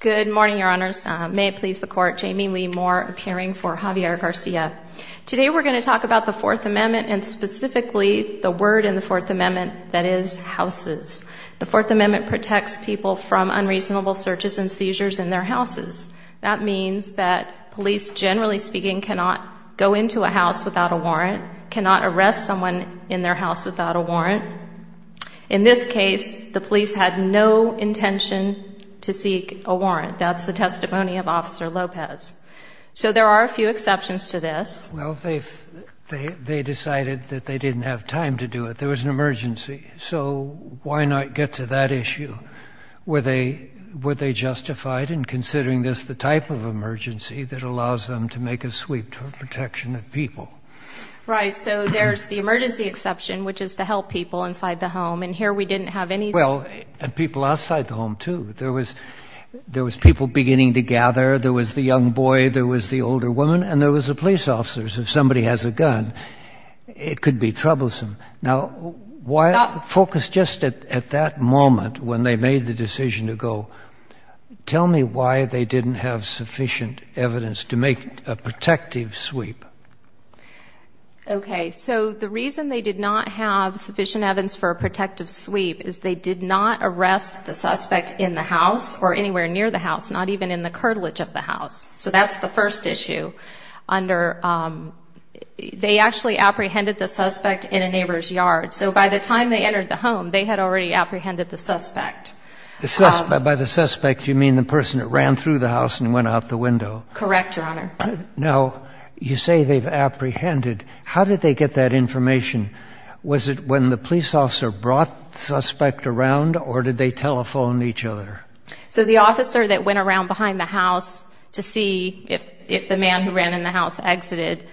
Today we're going to talk about the Fourth Amendment and specifically the word in the Fourth Amendment that is houses. The Fourth Amendment protects people from unreasonable searches and seizures in their houses. That means that police, generally speaking, cannot go into a house without a warrant, cannot arrest someone in their house without a warrant. In this case, the Fourth Amendment protects people from unreasonable searches and seizures in their houses. In this case, the police had no intention to seek a warrant. That's the testimony of Officer Lopez. So there are a few exceptions to this. Well, they decided that they didn't have time to do it. There was an emergency. So why not get to that issue? Were they justified in considering this the type of emergency that allows them to make a sweep for protection of people? Right. So there's the emergency exception, which is to help people inside the home. And here we didn't have any... Well, and people outside the home, too. There was people beginning to gather. There was the young boy. There was the older woman. And there was the police officers. If somebody has a gun, it could be troublesome. Now, focus just at that moment when they made the decision to go. Tell me why they didn't have sufficient evidence to make a protective sweep. Okay. So the reason they did not have sufficient evidence for a protective sweep is they did not arrest the suspect in the house or anywhere near the house, not even in the curtilage of the house. So that's the first issue. They actually apprehended the suspect in a neighbor's yard. So by the time they entered the home, they had already apprehended the suspect. By the suspect, you mean the person that ran through the house and went out the window? Correct, Your Honor. Now, you say they've apprehended. How did they get that information? Was it when the police officer brought the suspect around, or did they telephone each other? So the officer that went around behind the house to see if the man who ran in the house exited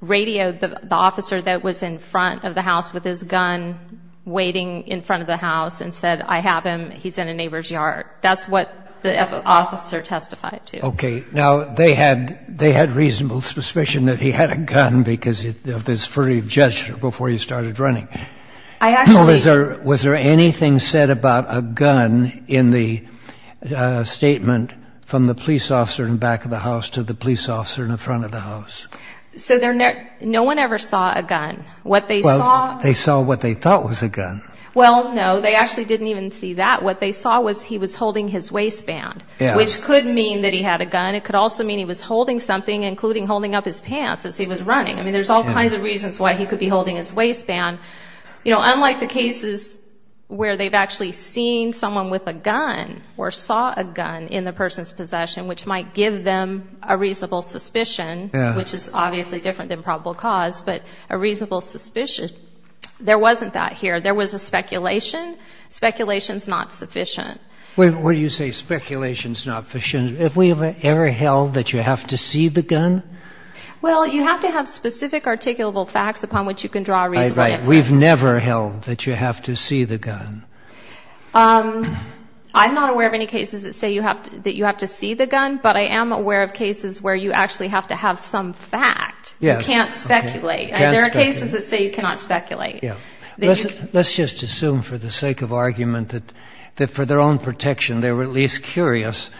radioed the officer that was in front of the house with his gun waiting in front of the house and said, I have him. He's in a neighbor's yard. That's what the officer testified to. Okay. Now, they had reasonable suspicion that he had a gun because of his furry gesture before he started running. I actually... Was there anything said about a gun in the statement from the police officer in the back of the house to the police officer in the front of the house? So no one ever saw a gun. What they saw... Well, they saw what they thought was a gun. Well, no, they actually didn't even see that. What they saw was he was holding his waistband, which could mean that he had a gun. It could also mean he was holding something, including holding up his pants as he was running. I mean, there's all kinds of reasons why he could be holding his waistband. You know, unlike the cases where they've actually seen someone with a gun or saw a gun in the person's possession, which might give them a reasonable suspicion, which is obviously different than probable cause, but a reasonable suspicion. There wasn't that here. There was a speculation. Speculation's not sufficient. When you say speculation's not sufficient, have we ever held that you have to see the gun? Well, you have to have specific articulable facts upon which you can draw a reasonable inference. We've never held that you have to see the gun. I'm not aware of any cases that say you have to see the gun, but I am aware of cases where you actually have to have some fact. You can't speculate. There are cases that say you cannot speculate. Let's just assume for the sake of argument that for their own protection they were at least curious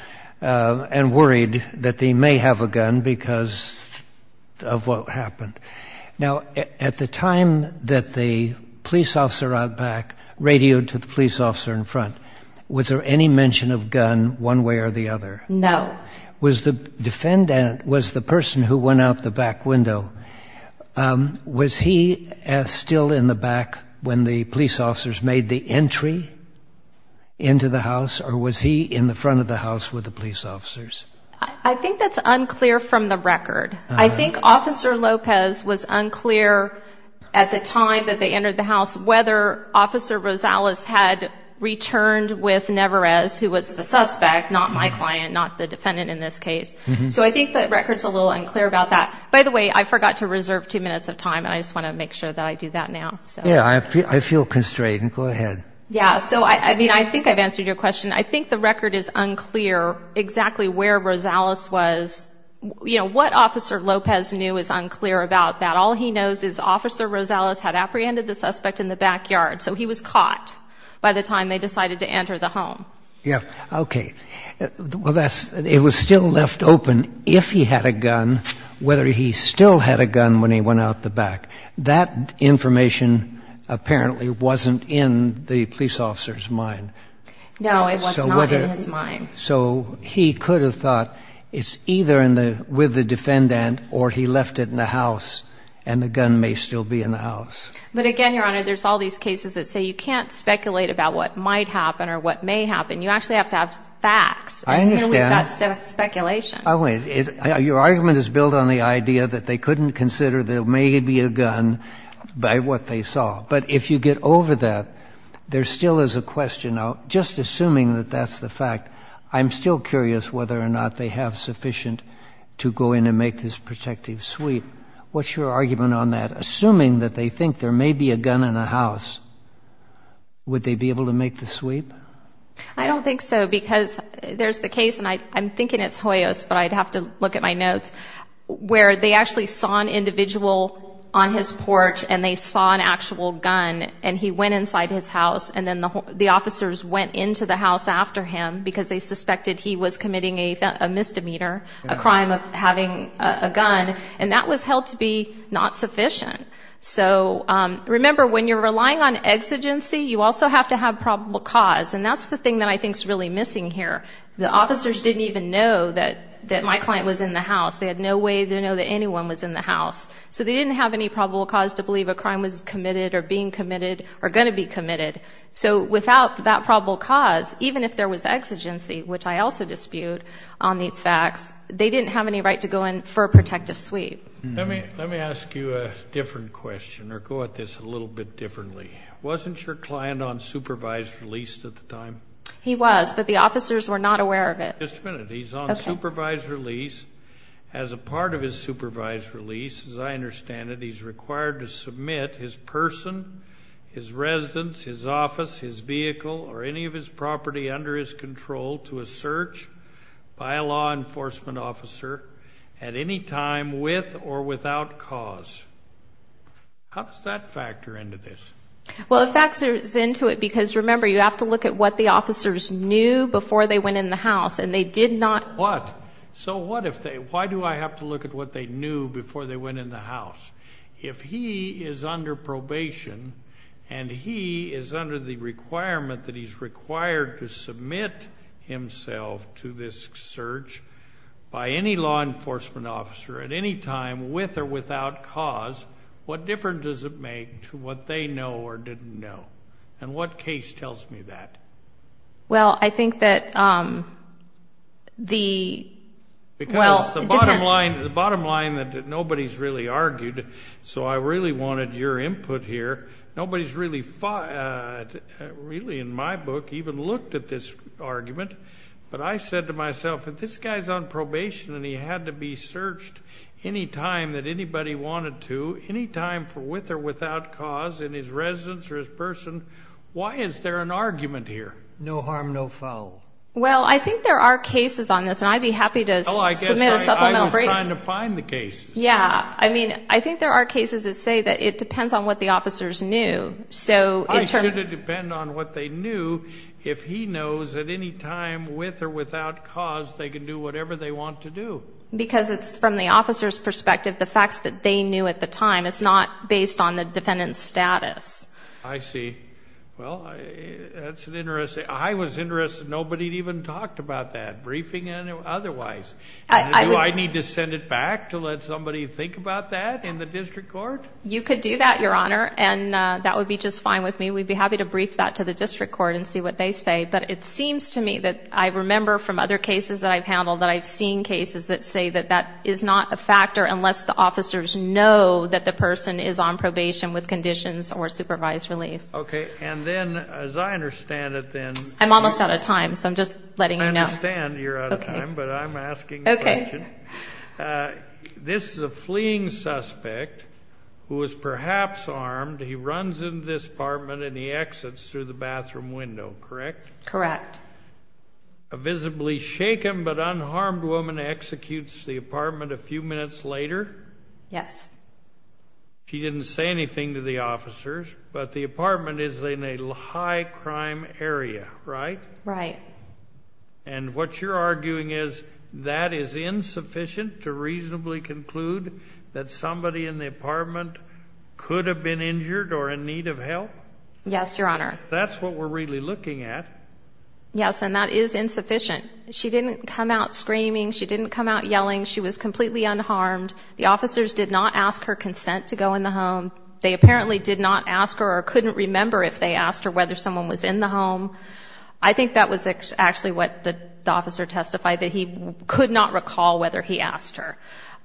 and worried that they may have a gun because of what happened. Now, at the time that the police officer out back radioed to the police officer in front, was there any mention of gun one way or the other? No. Was the person who went out the back window, was he still in the back when the police officers made the entry into the house, or was he in the front of the house with the police officers? I think that's unclear from the record. I think Officer Lopez was unclear at the time that they entered the house whether Officer Rosales had returned with Nevarez, who was the suspect, not my client, not the defendant in this case. So I think the record's a little unclear about that. By the way, I forgot to reserve two minutes of time, and I just want to make sure that I do that now. Yeah, I feel constrained. Go ahead. Yeah, so, I mean, I think I've answered your question. I think the record is unclear exactly where Rosales was. You know, what Officer Lopez knew is unclear about that. All he knows is Officer Rosales had apprehended the suspect in the backyard, so he was caught by the time they decided to enter the home. Yeah, okay. Well, it was still left open if he had a gun, whether he still had a gun when he went out the back. That information apparently wasn't in the police officer's mind. No, it was not in his mind. So he could have thought it's either with the defendant or he left it in the house and the gun may still be in the house. But, again, Your Honor, there's all these cases that say you can't speculate about what might happen or what may happen. You actually have to have facts. I understand. And we've got speculation. Your argument is built on the idea that they couldn't consider there may be a gun by what they saw. But if you get over that, there still is a question. Just assuming that that's the fact, I'm still curious whether or not they have sufficient to go in and make this protective sweep. What's your argument on that? Assuming that they think there may be a gun in the house, would they be able to make the sweep? I don't think so because there's the case, and I'm thinking it's Hoyos, but I'd have to look at my notes, where they actually saw an individual on his porch and they saw an actual gun and he went inside his house and then the officers went into the house after him because they suspected he was committing a misdemeanor, a crime of having a gun. And that was held to be not sufficient. So remember, when you're relying on exigency, you also have to have probable cause, and that's the thing that I think is really missing here. The officers didn't even know that my client was in the house. They had no way to know that anyone was in the house. So they didn't have any probable cause to believe a crime was committed or being committed or going to be committed. So without that probable cause, even if there was exigency, which I also dispute on these facts, they didn't have any right to go in for a protective sweep. Let me ask you a different question or go at this a little bit differently. Wasn't your client on supervised release at the time? He was, but the officers were not aware of it. Just a minute. He's on supervised release. As a part of his supervised release, as I understand it, he's required to submit his person, his residence, his office, his vehicle, or any of his property under his control to a search by a law enforcement officer at any time with or without cause. How does that factor into this? Well, it factors into it because, remember, you have to look at what the officers knew before they went in the house, and they did not. What? So why do I have to look at what they knew before they went in the house? If he is under probation and he is under the requirement that he's required to submit himself to this search by any law enforcement officer at any time with or without cause, what difference does it make to what they know or didn't know? And what case tells me that? Well, I think that the, well, it depends. Because the bottom line that nobody's really argued, so I really wanted your input here. Nobody's really in my book even looked at this argument, but I said to myself, if this guy's on probation and he had to be searched any time that anybody wanted to, any time with or without cause in his residence or his person, why is there an argument here? No harm, no foul. Well, I think there are cases on this, and I'd be happy to submit a supplemental brief. Oh, I guess I was trying to find the cases. Yeah, I mean, I think there are cases that say that it depends on what the officers knew. It shouldn't depend on what they knew. If he knows at any time with or without cause, they can do whatever they want to do. Because it's from the officer's perspective, the facts that they knew at the time. It's not based on the defendant's status. I see. Well, that's interesting. I was interested. Nobody even talked about that, briefing and otherwise. Do I need to send it back to let somebody think about that in the district court? You could do that, Your Honor, and that would be just fine with me. We'd be happy to brief that to the district court and see what they say. But it seems to me that I remember from other cases that I've handled that I've seen cases that say that that is not a factor unless the officers know that the person is on probation with conditions or supervised release. Okay. And then, as I understand it, then... I'm almost out of time, so I'm just letting you know. I understand you're out of time, but I'm asking a question. Okay. This is a fleeing suspect who is perhaps armed. He runs into this apartment and he exits through the bathroom window, correct? Correct. A visibly shaken but unharmed woman executes the apartment a few minutes later? Yes. She didn't say anything to the officers, but the apartment is in a high crime area, right? Right. And what you're arguing is that is insufficient to reasonably conclude that somebody in the apartment could have been injured or in need of help? Yes, Your Honor. That's what we're really looking at. Yes, and that is insufficient. She didn't come out screaming. She didn't come out yelling. She was completely unharmed. The officers did not ask her consent to go in the home. They apparently did not ask her or couldn't remember if they asked her whether someone was in the home. I think that was actually what the officer testified, that he could not recall whether he asked her.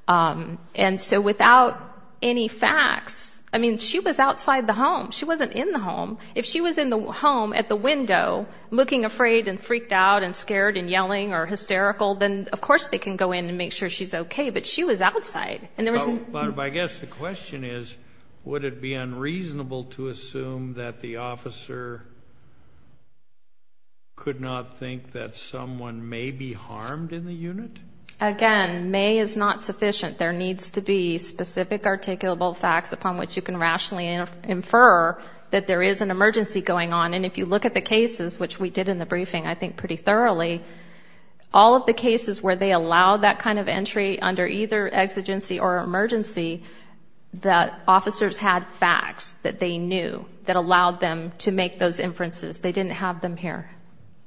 And so without any facts, I mean, she was outside the home. She wasn't in the home. If she was in the home at the window looking afraid and freaked out and scared and yelling or hysterical, then of course they can go in and make sure she's okay, but she was outside. But I guess the question is, would it be unreasonable to assume that the officer could not think that someone may be harmed in the unit? Again, may is not sufficient. There needs to be specific articulable facts upon which you can rationally infer that there is an emergency going on. And if you look at the cases, which we did in the briefing, I think pretty thoroughly, all of the cases where they allowed that kind of entry under either exigency or emergency, the officers had facts that they knew that allowed them to make those inferences. They didn't have them here.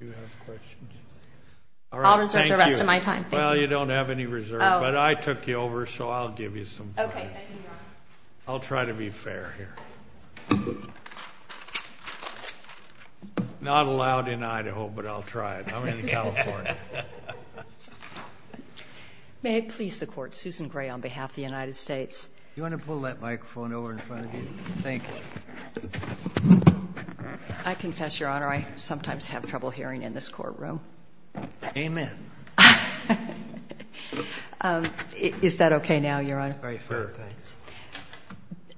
Do you have questions? I'll reserve the rest of my time. Well, you don't have any reserve, but I took you over, so I'll give you some time. Okay, thank you, Ron. I'll try to be fair here. Not allowed in Idaho, but I'll try it. I'm in California. May it please the Court, Susan Gray, on behalf of the United States. Do you want to pull that microphone over in front of you? Thank you. I confess, Your Honor, I sometimes have trouble hearing in this courtroom. Amen. Is that okay now, Your Honor? Very fair. Thanks.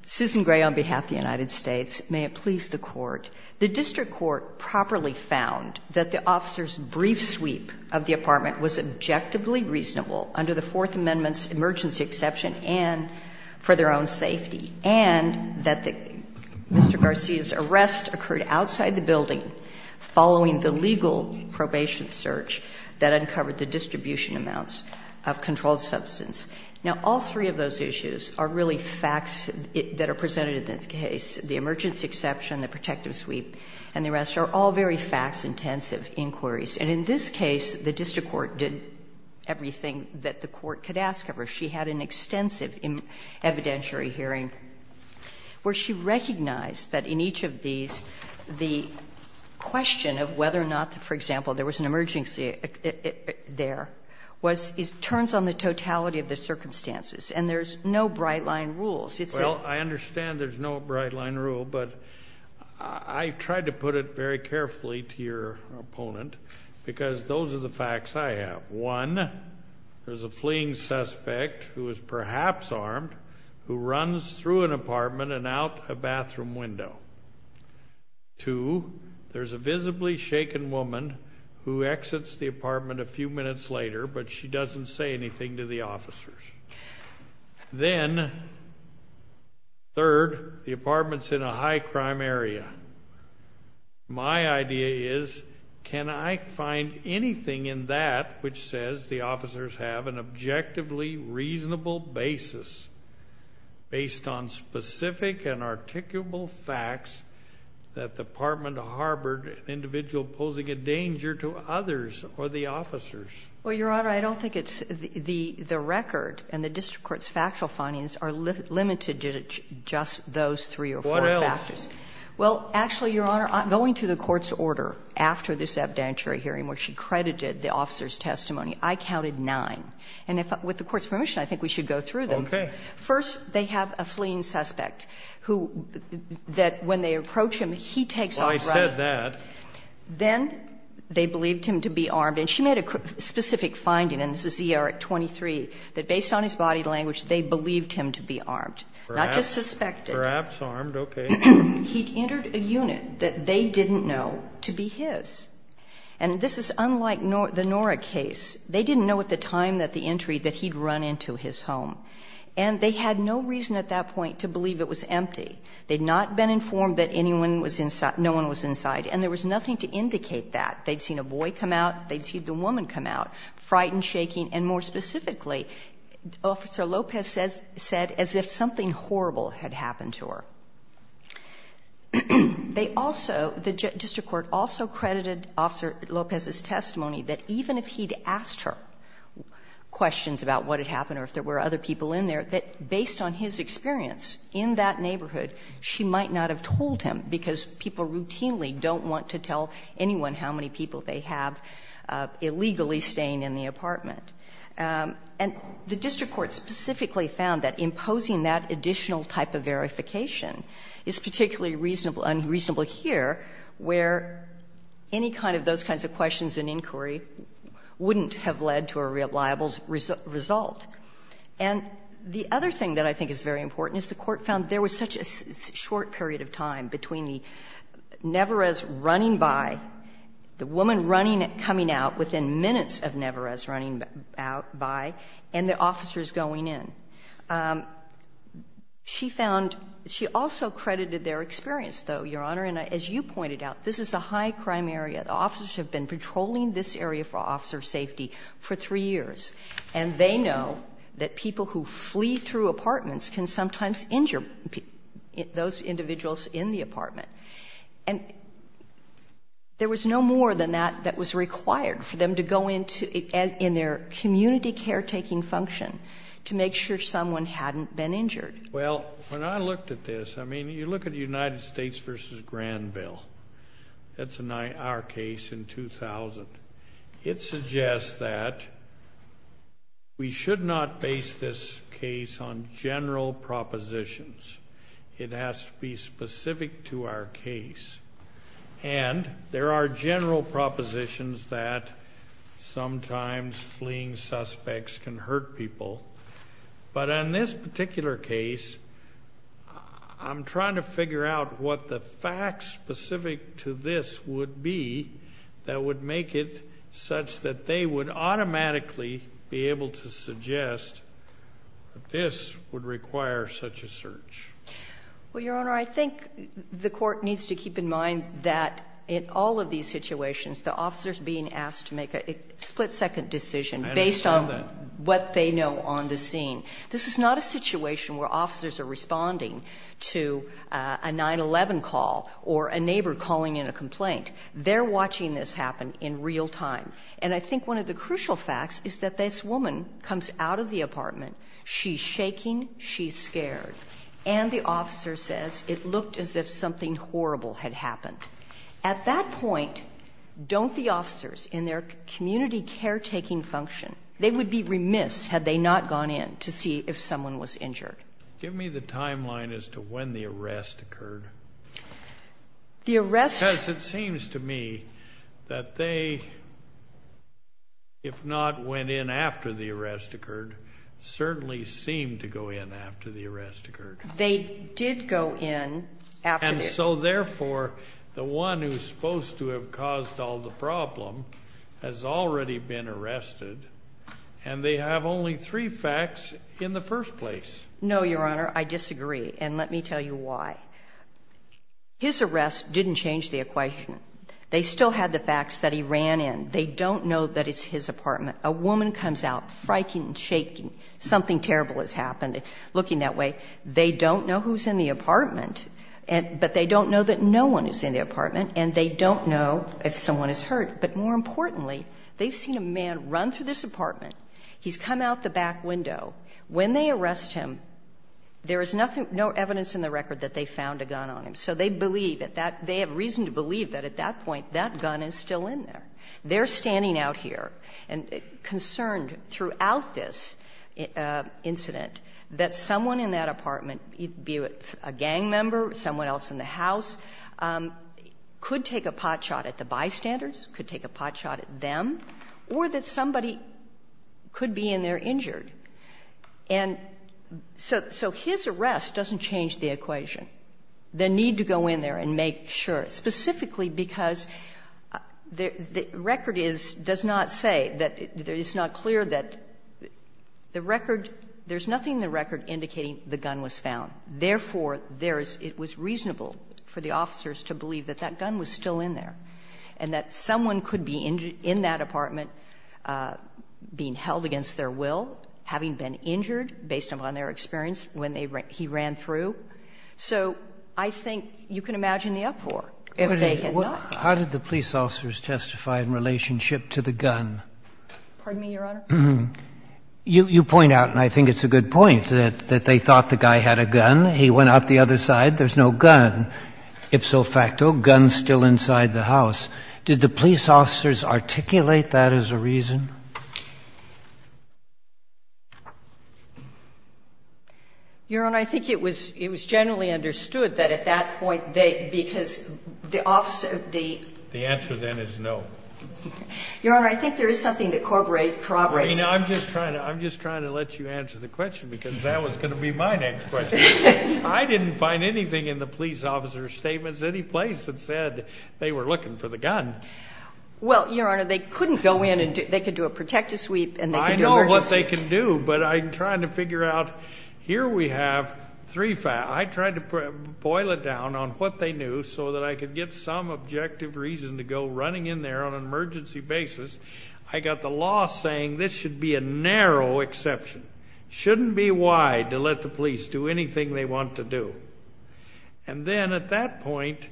Susan Gray, on behalf of the United States, may it please the Court. The district court properly found that the officer's brief sweep of the apartment was objectively reasonable under the Fourth Amendment's emergency exception and for their own safety, and that Mr. Garcia's arrest occurred outside the building following the legal probation search that uncovered the distribution amounts of controlled substance. Now, all three of those issues are really facts that are presented in this case, the emergency exception, the protective sweep, and the arrest, are all very facts-intensive inquiries. And in this case, the district court did everything that the court could ask of her. She had an extensive evidentiary hearing where she recognized that in each of these, the question of whether or not, for example, there was an emergency there, turns on the totality of the circumstances. And there's no bright-line rules. Well, I understand there's no bright-line rule, but I tried to put it very carefully to your opponent because those are the facts I have. One, there's a fleeing suspect who is perhaps armed who runs through an apartment and out a bathroom window. Two, there's a visibly shaken woman who exits the apartment a few minutes later, but she doesn't say anything to the officers. Then, third, the apartment's in a high-crime area. My idea is, can I find anything in that which says the officers have an objectively reasonable basis based on specific and articulable facts that the apartment harbored an individual posing a danger to others or the officers? Well, Your Honor, I don't think it's the record and the district court's factual findings are limited to just those three or four factors. What else? Well, actually, Your Honor, going through the court's order after this evidentiary hearing where she credited the officers' testimony, I counted nine. And with the court's permission, I think we should go through them. Okay. First, they have a fleeing suspect who, that when they approach him, he takes off running. Well, I said that. Then they believed him to be armed. And she made a specific finding, and this is E.R. 23, that based on his body language, they believed him to be armed, not just suspected. Perhaps armed. Okay. He'd entered a unit that they didn't know to be his. And this is unlike the Nora case. They didn't know at the time that the entry that he'd run into his home. And they had no reason at that point to believe it was empty. They'd not been informed that anyone was inside, no one was inside. And there was nothing to indicate that. They'd seen a boy come out. They'd seen the woman come out, frightened, shaking. And more specifically, Officer Lopez said as if something horrible had happened to her. They also, the district court also credited Officer Lopez's testimony that even if he'd asked her questions about what had happened or if there were other people in there, that based on his experience in that neighborhood, she might not have told him, because people routinely don't want to tell anyone how many people they have illegally staying in the apartment. And the district court specifically found that imposing that additional type of verification is particularly reasonable, unreasonable here, where any kind of those kinds of questions and inquiry wouldn't have led to a reliable result. And the other thing that I think is very important is the Court found there was such a short period of time between the Neverez running by, the woman running, coming out within minutes of Neverez running out by, and the officers going in. She found — she also credited their experience, though, Your Honor. And as you pointed out, this is a high-crime area. The officers have been patrolling this area for officer safety for three years. And they know that people who flee through apartments can sometimes injure those individuals in the apartment. And there was no more than that that was required for them to go into their community caretaking function to make sure someone hadn't been injured. Well, when I looked at this, I mean, you look at United States v. Granville. That's our case in 2000. It suggests that we should not base this case on general propositions. It has to be specific to our case. And there are general propositions that sometimes fleeing suspects can hurt people. But on this particular case, I'm trying to figure out what the facts specific to this would be that would make it such that they would automatically be able to suggest that this would require such a search. Well, Your Honor, I think the court needs to keep in mind that in all of these situations, the officers being asked to make a split-second decision based on what they know on the scene. This is not a situation where officers are responding to a 9-11 call or a neighbor calling in a complaint. They're watching this happen in real time. And I think one of the crucial facts is that this woman comes out of the apartment. She's shaking. She's scared. And the officer says it looked as if something horrible had happened. At that point, don't the officers in their community caretaking function, they would be remiss had they not gone in to see if someone was injured. Give me the timeline as to when the arrest occurred. The arrest... Because it seems to me that they, if not went in after the arrest occurred, certainly seemed to go in after the arrest occurred. They did go in after the... And so, therefore, the one who's supposed to have caused all the problem has already been arrested, and they have only three facts in the first place. No, Your Honor. I disagree. And let me tell you why. His arrest didn't change the equation. They still had the facts that he ran in. They don't know that it's his apartment. A woman comes out, frightened, shaking, something terrible has happened, looking that way. They don't know who's in the apartment, but they don't know that no one is in the apartment, and they don't know if someone is hurt. But more importantly, they've seen a man run through this apartment. He's come out the back window. When they arrest him, there is nothing, no evidence in the record that they found a gun on him. So they believe that that... They have reason to believe that at that point that gun is still in there. They're standing out here and concerned throughout this incident that someone in that apartment, be it a gang member, someone else in the house, could take a potshot at the bystanders, could take a potshot at them, or that somebody could be in there injured. And so his arrest doesn't change the equation. The need to go in there and make sure, specifically because the record is, does not say, that it's not clear that the record, there's nothing in the record indicating the gun was found. Therefore, there is, it was reasonable for the officers to believe that that gun was still in there, and that someone could be in that apartment being held against their will, having been injured based upon their experience when he ran through. So I think you can imagine the uproar if they had not. How did the police officers testify in relationship to the gun? Pardon me, Your Honor? You point out, and I think it's a good point, that they thought the guy had a gun. He went out the other side. There's no gun. If so facto, gun still inside the house. Did the police officers articulate that as a reason? Your Honor, I think it was generally understood that at that point they, because the officer, the. The answer then is no. Your Honor, I think there is something that corroborates. I'm just trying to let you answer the question, because that was going to be my next question. I didn't find anything in the police officers' statements, any place that said they were looking for the gun. Well, Your Honor, they couldn't go in, and they could do a protective sweep, and they could do an emergency. I know what they can do, but I'm trying to figure out. Here we have three facts. I tried to boil it down on what they knew so that I could get some objective reason to go running in there on an emergency basis. I got the law saying this should be a narrow exception. Shouldn't be wide to let the police do anything they want to do. And then at that point,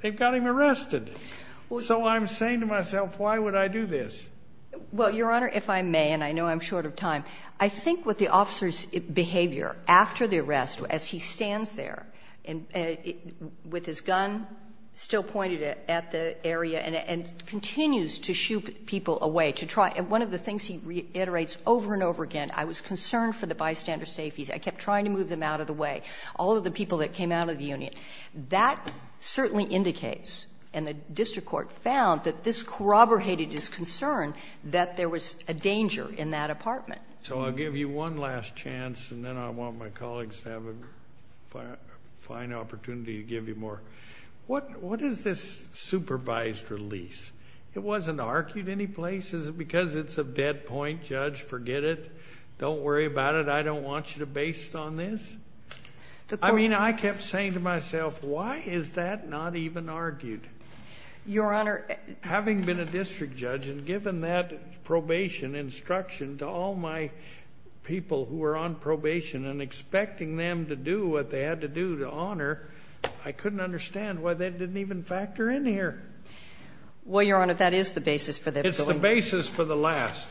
they've got him arrested. So I'm saying to myself, why would I do this? Well, Your Honor, if I may, and I know I'm short of time, I think with the officer's behavior after the arrest, as he stands there with his gun still pointed at the area and continues to shoot people away. One of the things he reiterates over and over again, I was concerned for the bystander safeties. I kept trying to move them out of the way. All of the people that came out of the union. That certainly indicates, and the district court found, that this corroborated his concern that there was a danger in that apartment. So I'll give you one last chance, and then I want my colleagues to have a fine opportunity to give you more. What is this supervised release? It wasn't argued any place. Is it because it's a dead point, Judge? Forget it. Don't worry about it. I don't want you to base it on this. I mean, I kept saying to myself, why is that not even argued? Your Honor. Having been a district judge and given that probation instruction to all my people who were on probation and expecting them to do what they had to do to honor, I couldn't understand why they didn't even factor in here. Well, Your Honor, that is the basis for their ability. It's the basis for the last,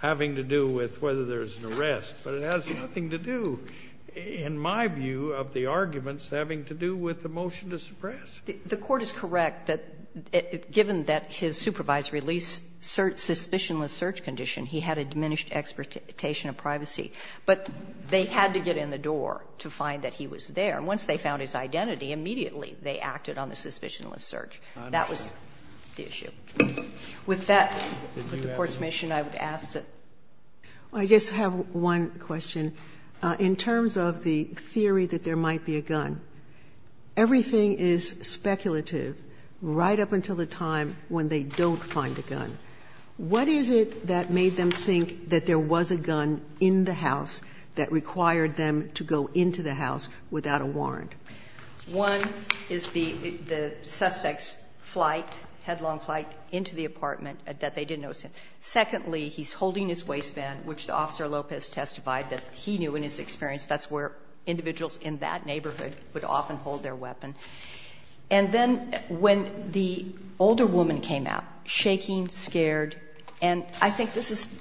having to do with whether there's an arrest. But it has nothing to do, in my view, of the arguments having to do with the motion to suppress. The Court is correct that given that his supervised release, suspicionless search condition, he had a diminished expectation of privacy. But they had to get in the door to find that he was there. And once they found his identity, immediately they acted on the suspicionless search. That was the issue. With that, with the Court's mission, I would ask that. I just have one question. In terms of the theory that there might be a gun, everything is speculative right up until the time when they don't find a gun. What is it that made them think that there was a gun in the house that required them to go into the house without a warrant? One is the suspect's flight, headlong flight into the apartment that they didn't notice him. Secondly, he's holding his waistband, which Officer Lopez testified that he knew in his experience that's where individuals in that neighborhood would often hold their weapon. And then when the older woman came out, shaking, scared, and I think this is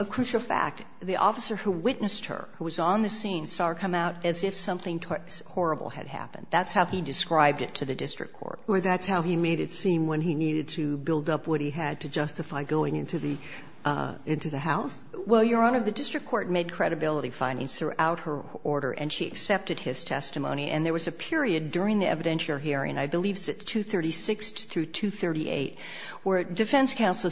a crucial fact. The officer who witnessed her, who was on the scene, saw her come out as if something horrible had happened. That's how he described it to the district court. Or that's how he made it seem when he needed to build up what he had to justify going into the house? Well, Your Honor, the district court made credibility findings throughout her order, and she accepted his testimony. And there was a period during the evidentiary hearing, I believe it's at 236 through 238, where defense counsel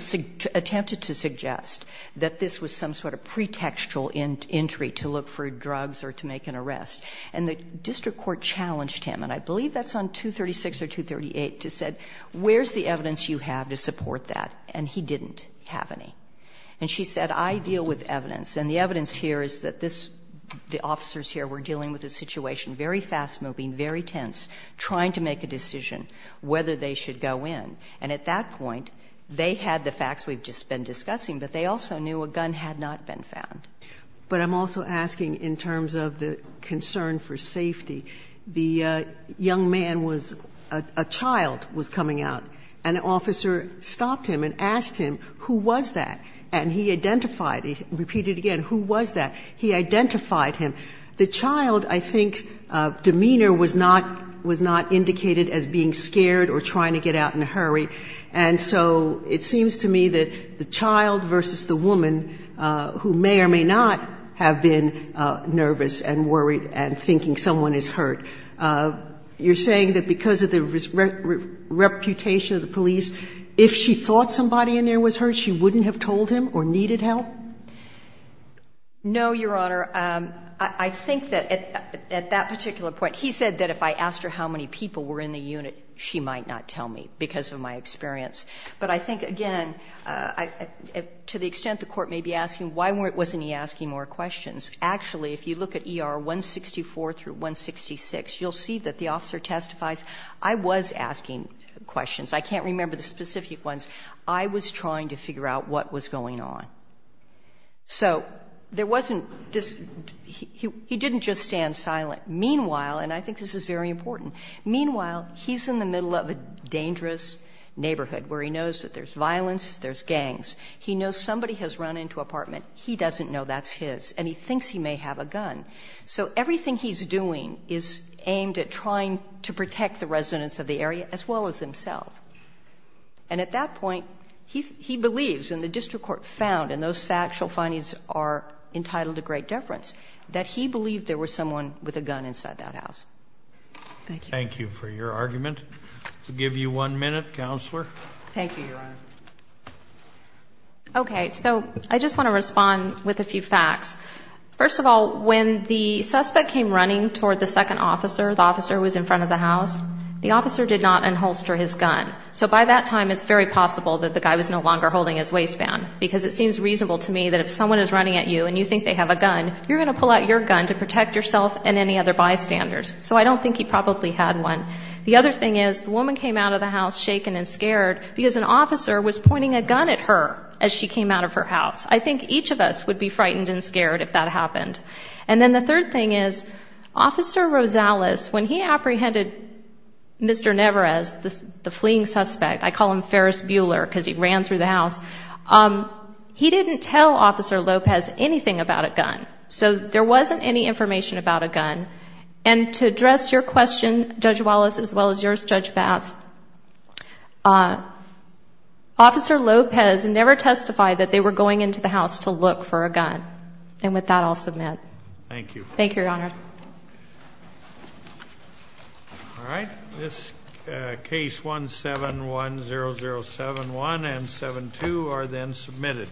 attempted to suggest that this was some sort of pretextual entry to look for drugs or to make an arrest. And the district court challenged him, and I believe that's on 236 or 238, to say where's the evidence you have to support that? And he didn't have any. And she said, I deal with evidence, and the evidence here is that the officers here were dealing with a situation, very fast-moving, very tense, trying to make a decision whether they should go in. And at that point, they had the facts we've just been discussing, but they also knew a gun had not been found. But I'm also asking in terms of the concern for safety. The young man was, a child was coming out, and an officer stopped him and asked him, who was that? And he identified, he repeated again, who was that? He identified him. The child, I think, demeanor was not indicated as being scared or trying to get out in a hurry. And so it seems to me that the child versus the woman who may or may not have been nervous and worried and thinking someone is hurt, you're saying that because of the reputation of the police, if she thought somebody in there was hurt, she wouldn't have told him or needed help? No, Your Honor. I think that at that particular point, he said that if I asked her how many people were in the unit, she might not tell me because of my experience. But I think, again, to the extent the Court may be asking why wasn't he asking more questions, actually, if you look at ER 164 through 166, you'll see that the officer testifies, I was asking questions. I can't remember the specific ones. I was trying to figure out what was going on. So there wasn't just he didn't just stand silent. Meanwhile, and I think this is very important. Meanwhile, he's in the middle of a dangerous neighborhood where he knows that there's violence, there's gangs. He knows somebody has run into an apartment. He doesn't know that's his. And he thinks he may have a gun. So everything he's doing is aimed at trying to protect the residents of the area as well as himself. And at that point, he believes, and the district court found, and those factual findings are entitled to great deference, that he believed there was someone with a gun inside that house. Thank you. Thank you for your argument. We'll give you one minute, Counselor. Thank you, Your Honor. Okay. So I just want to respond with a few facts. First of all, when the suspect came running toward the second officer, the officer who was in front of the house, the officer did not unholster his gun. So by that time, it's very possible that the guy was no longer holding his waistband because it seems reasonable to me that if someone is running at you and you think they have a gun, you're going to pull out your gun to protect yourself and any other bystanders. So I don't think he probably had one. The other thing is, the woman came out of the house shaken and scared because an officer was pointing a gun at her as she came out of her house. I think each of us would be frightened and scared if that happened. And then the third thing is, Officer Rosales, when he apprehended Mr. Neverez, the fleeing suspect, I call him Ferris Bueller because he ran through the house, he didn't tell Officer Lopez anything about a gun. So there wasn't any information about a gun. And to address your question, Judge Wallace, as well as yours, Judge Batts, Officer Lopez never testified that they were going into the house to look for a gun. And with that, I'll submit. Thank you. Thank you, Your Honor. All right. This case 1710071 and 72 are then submitted.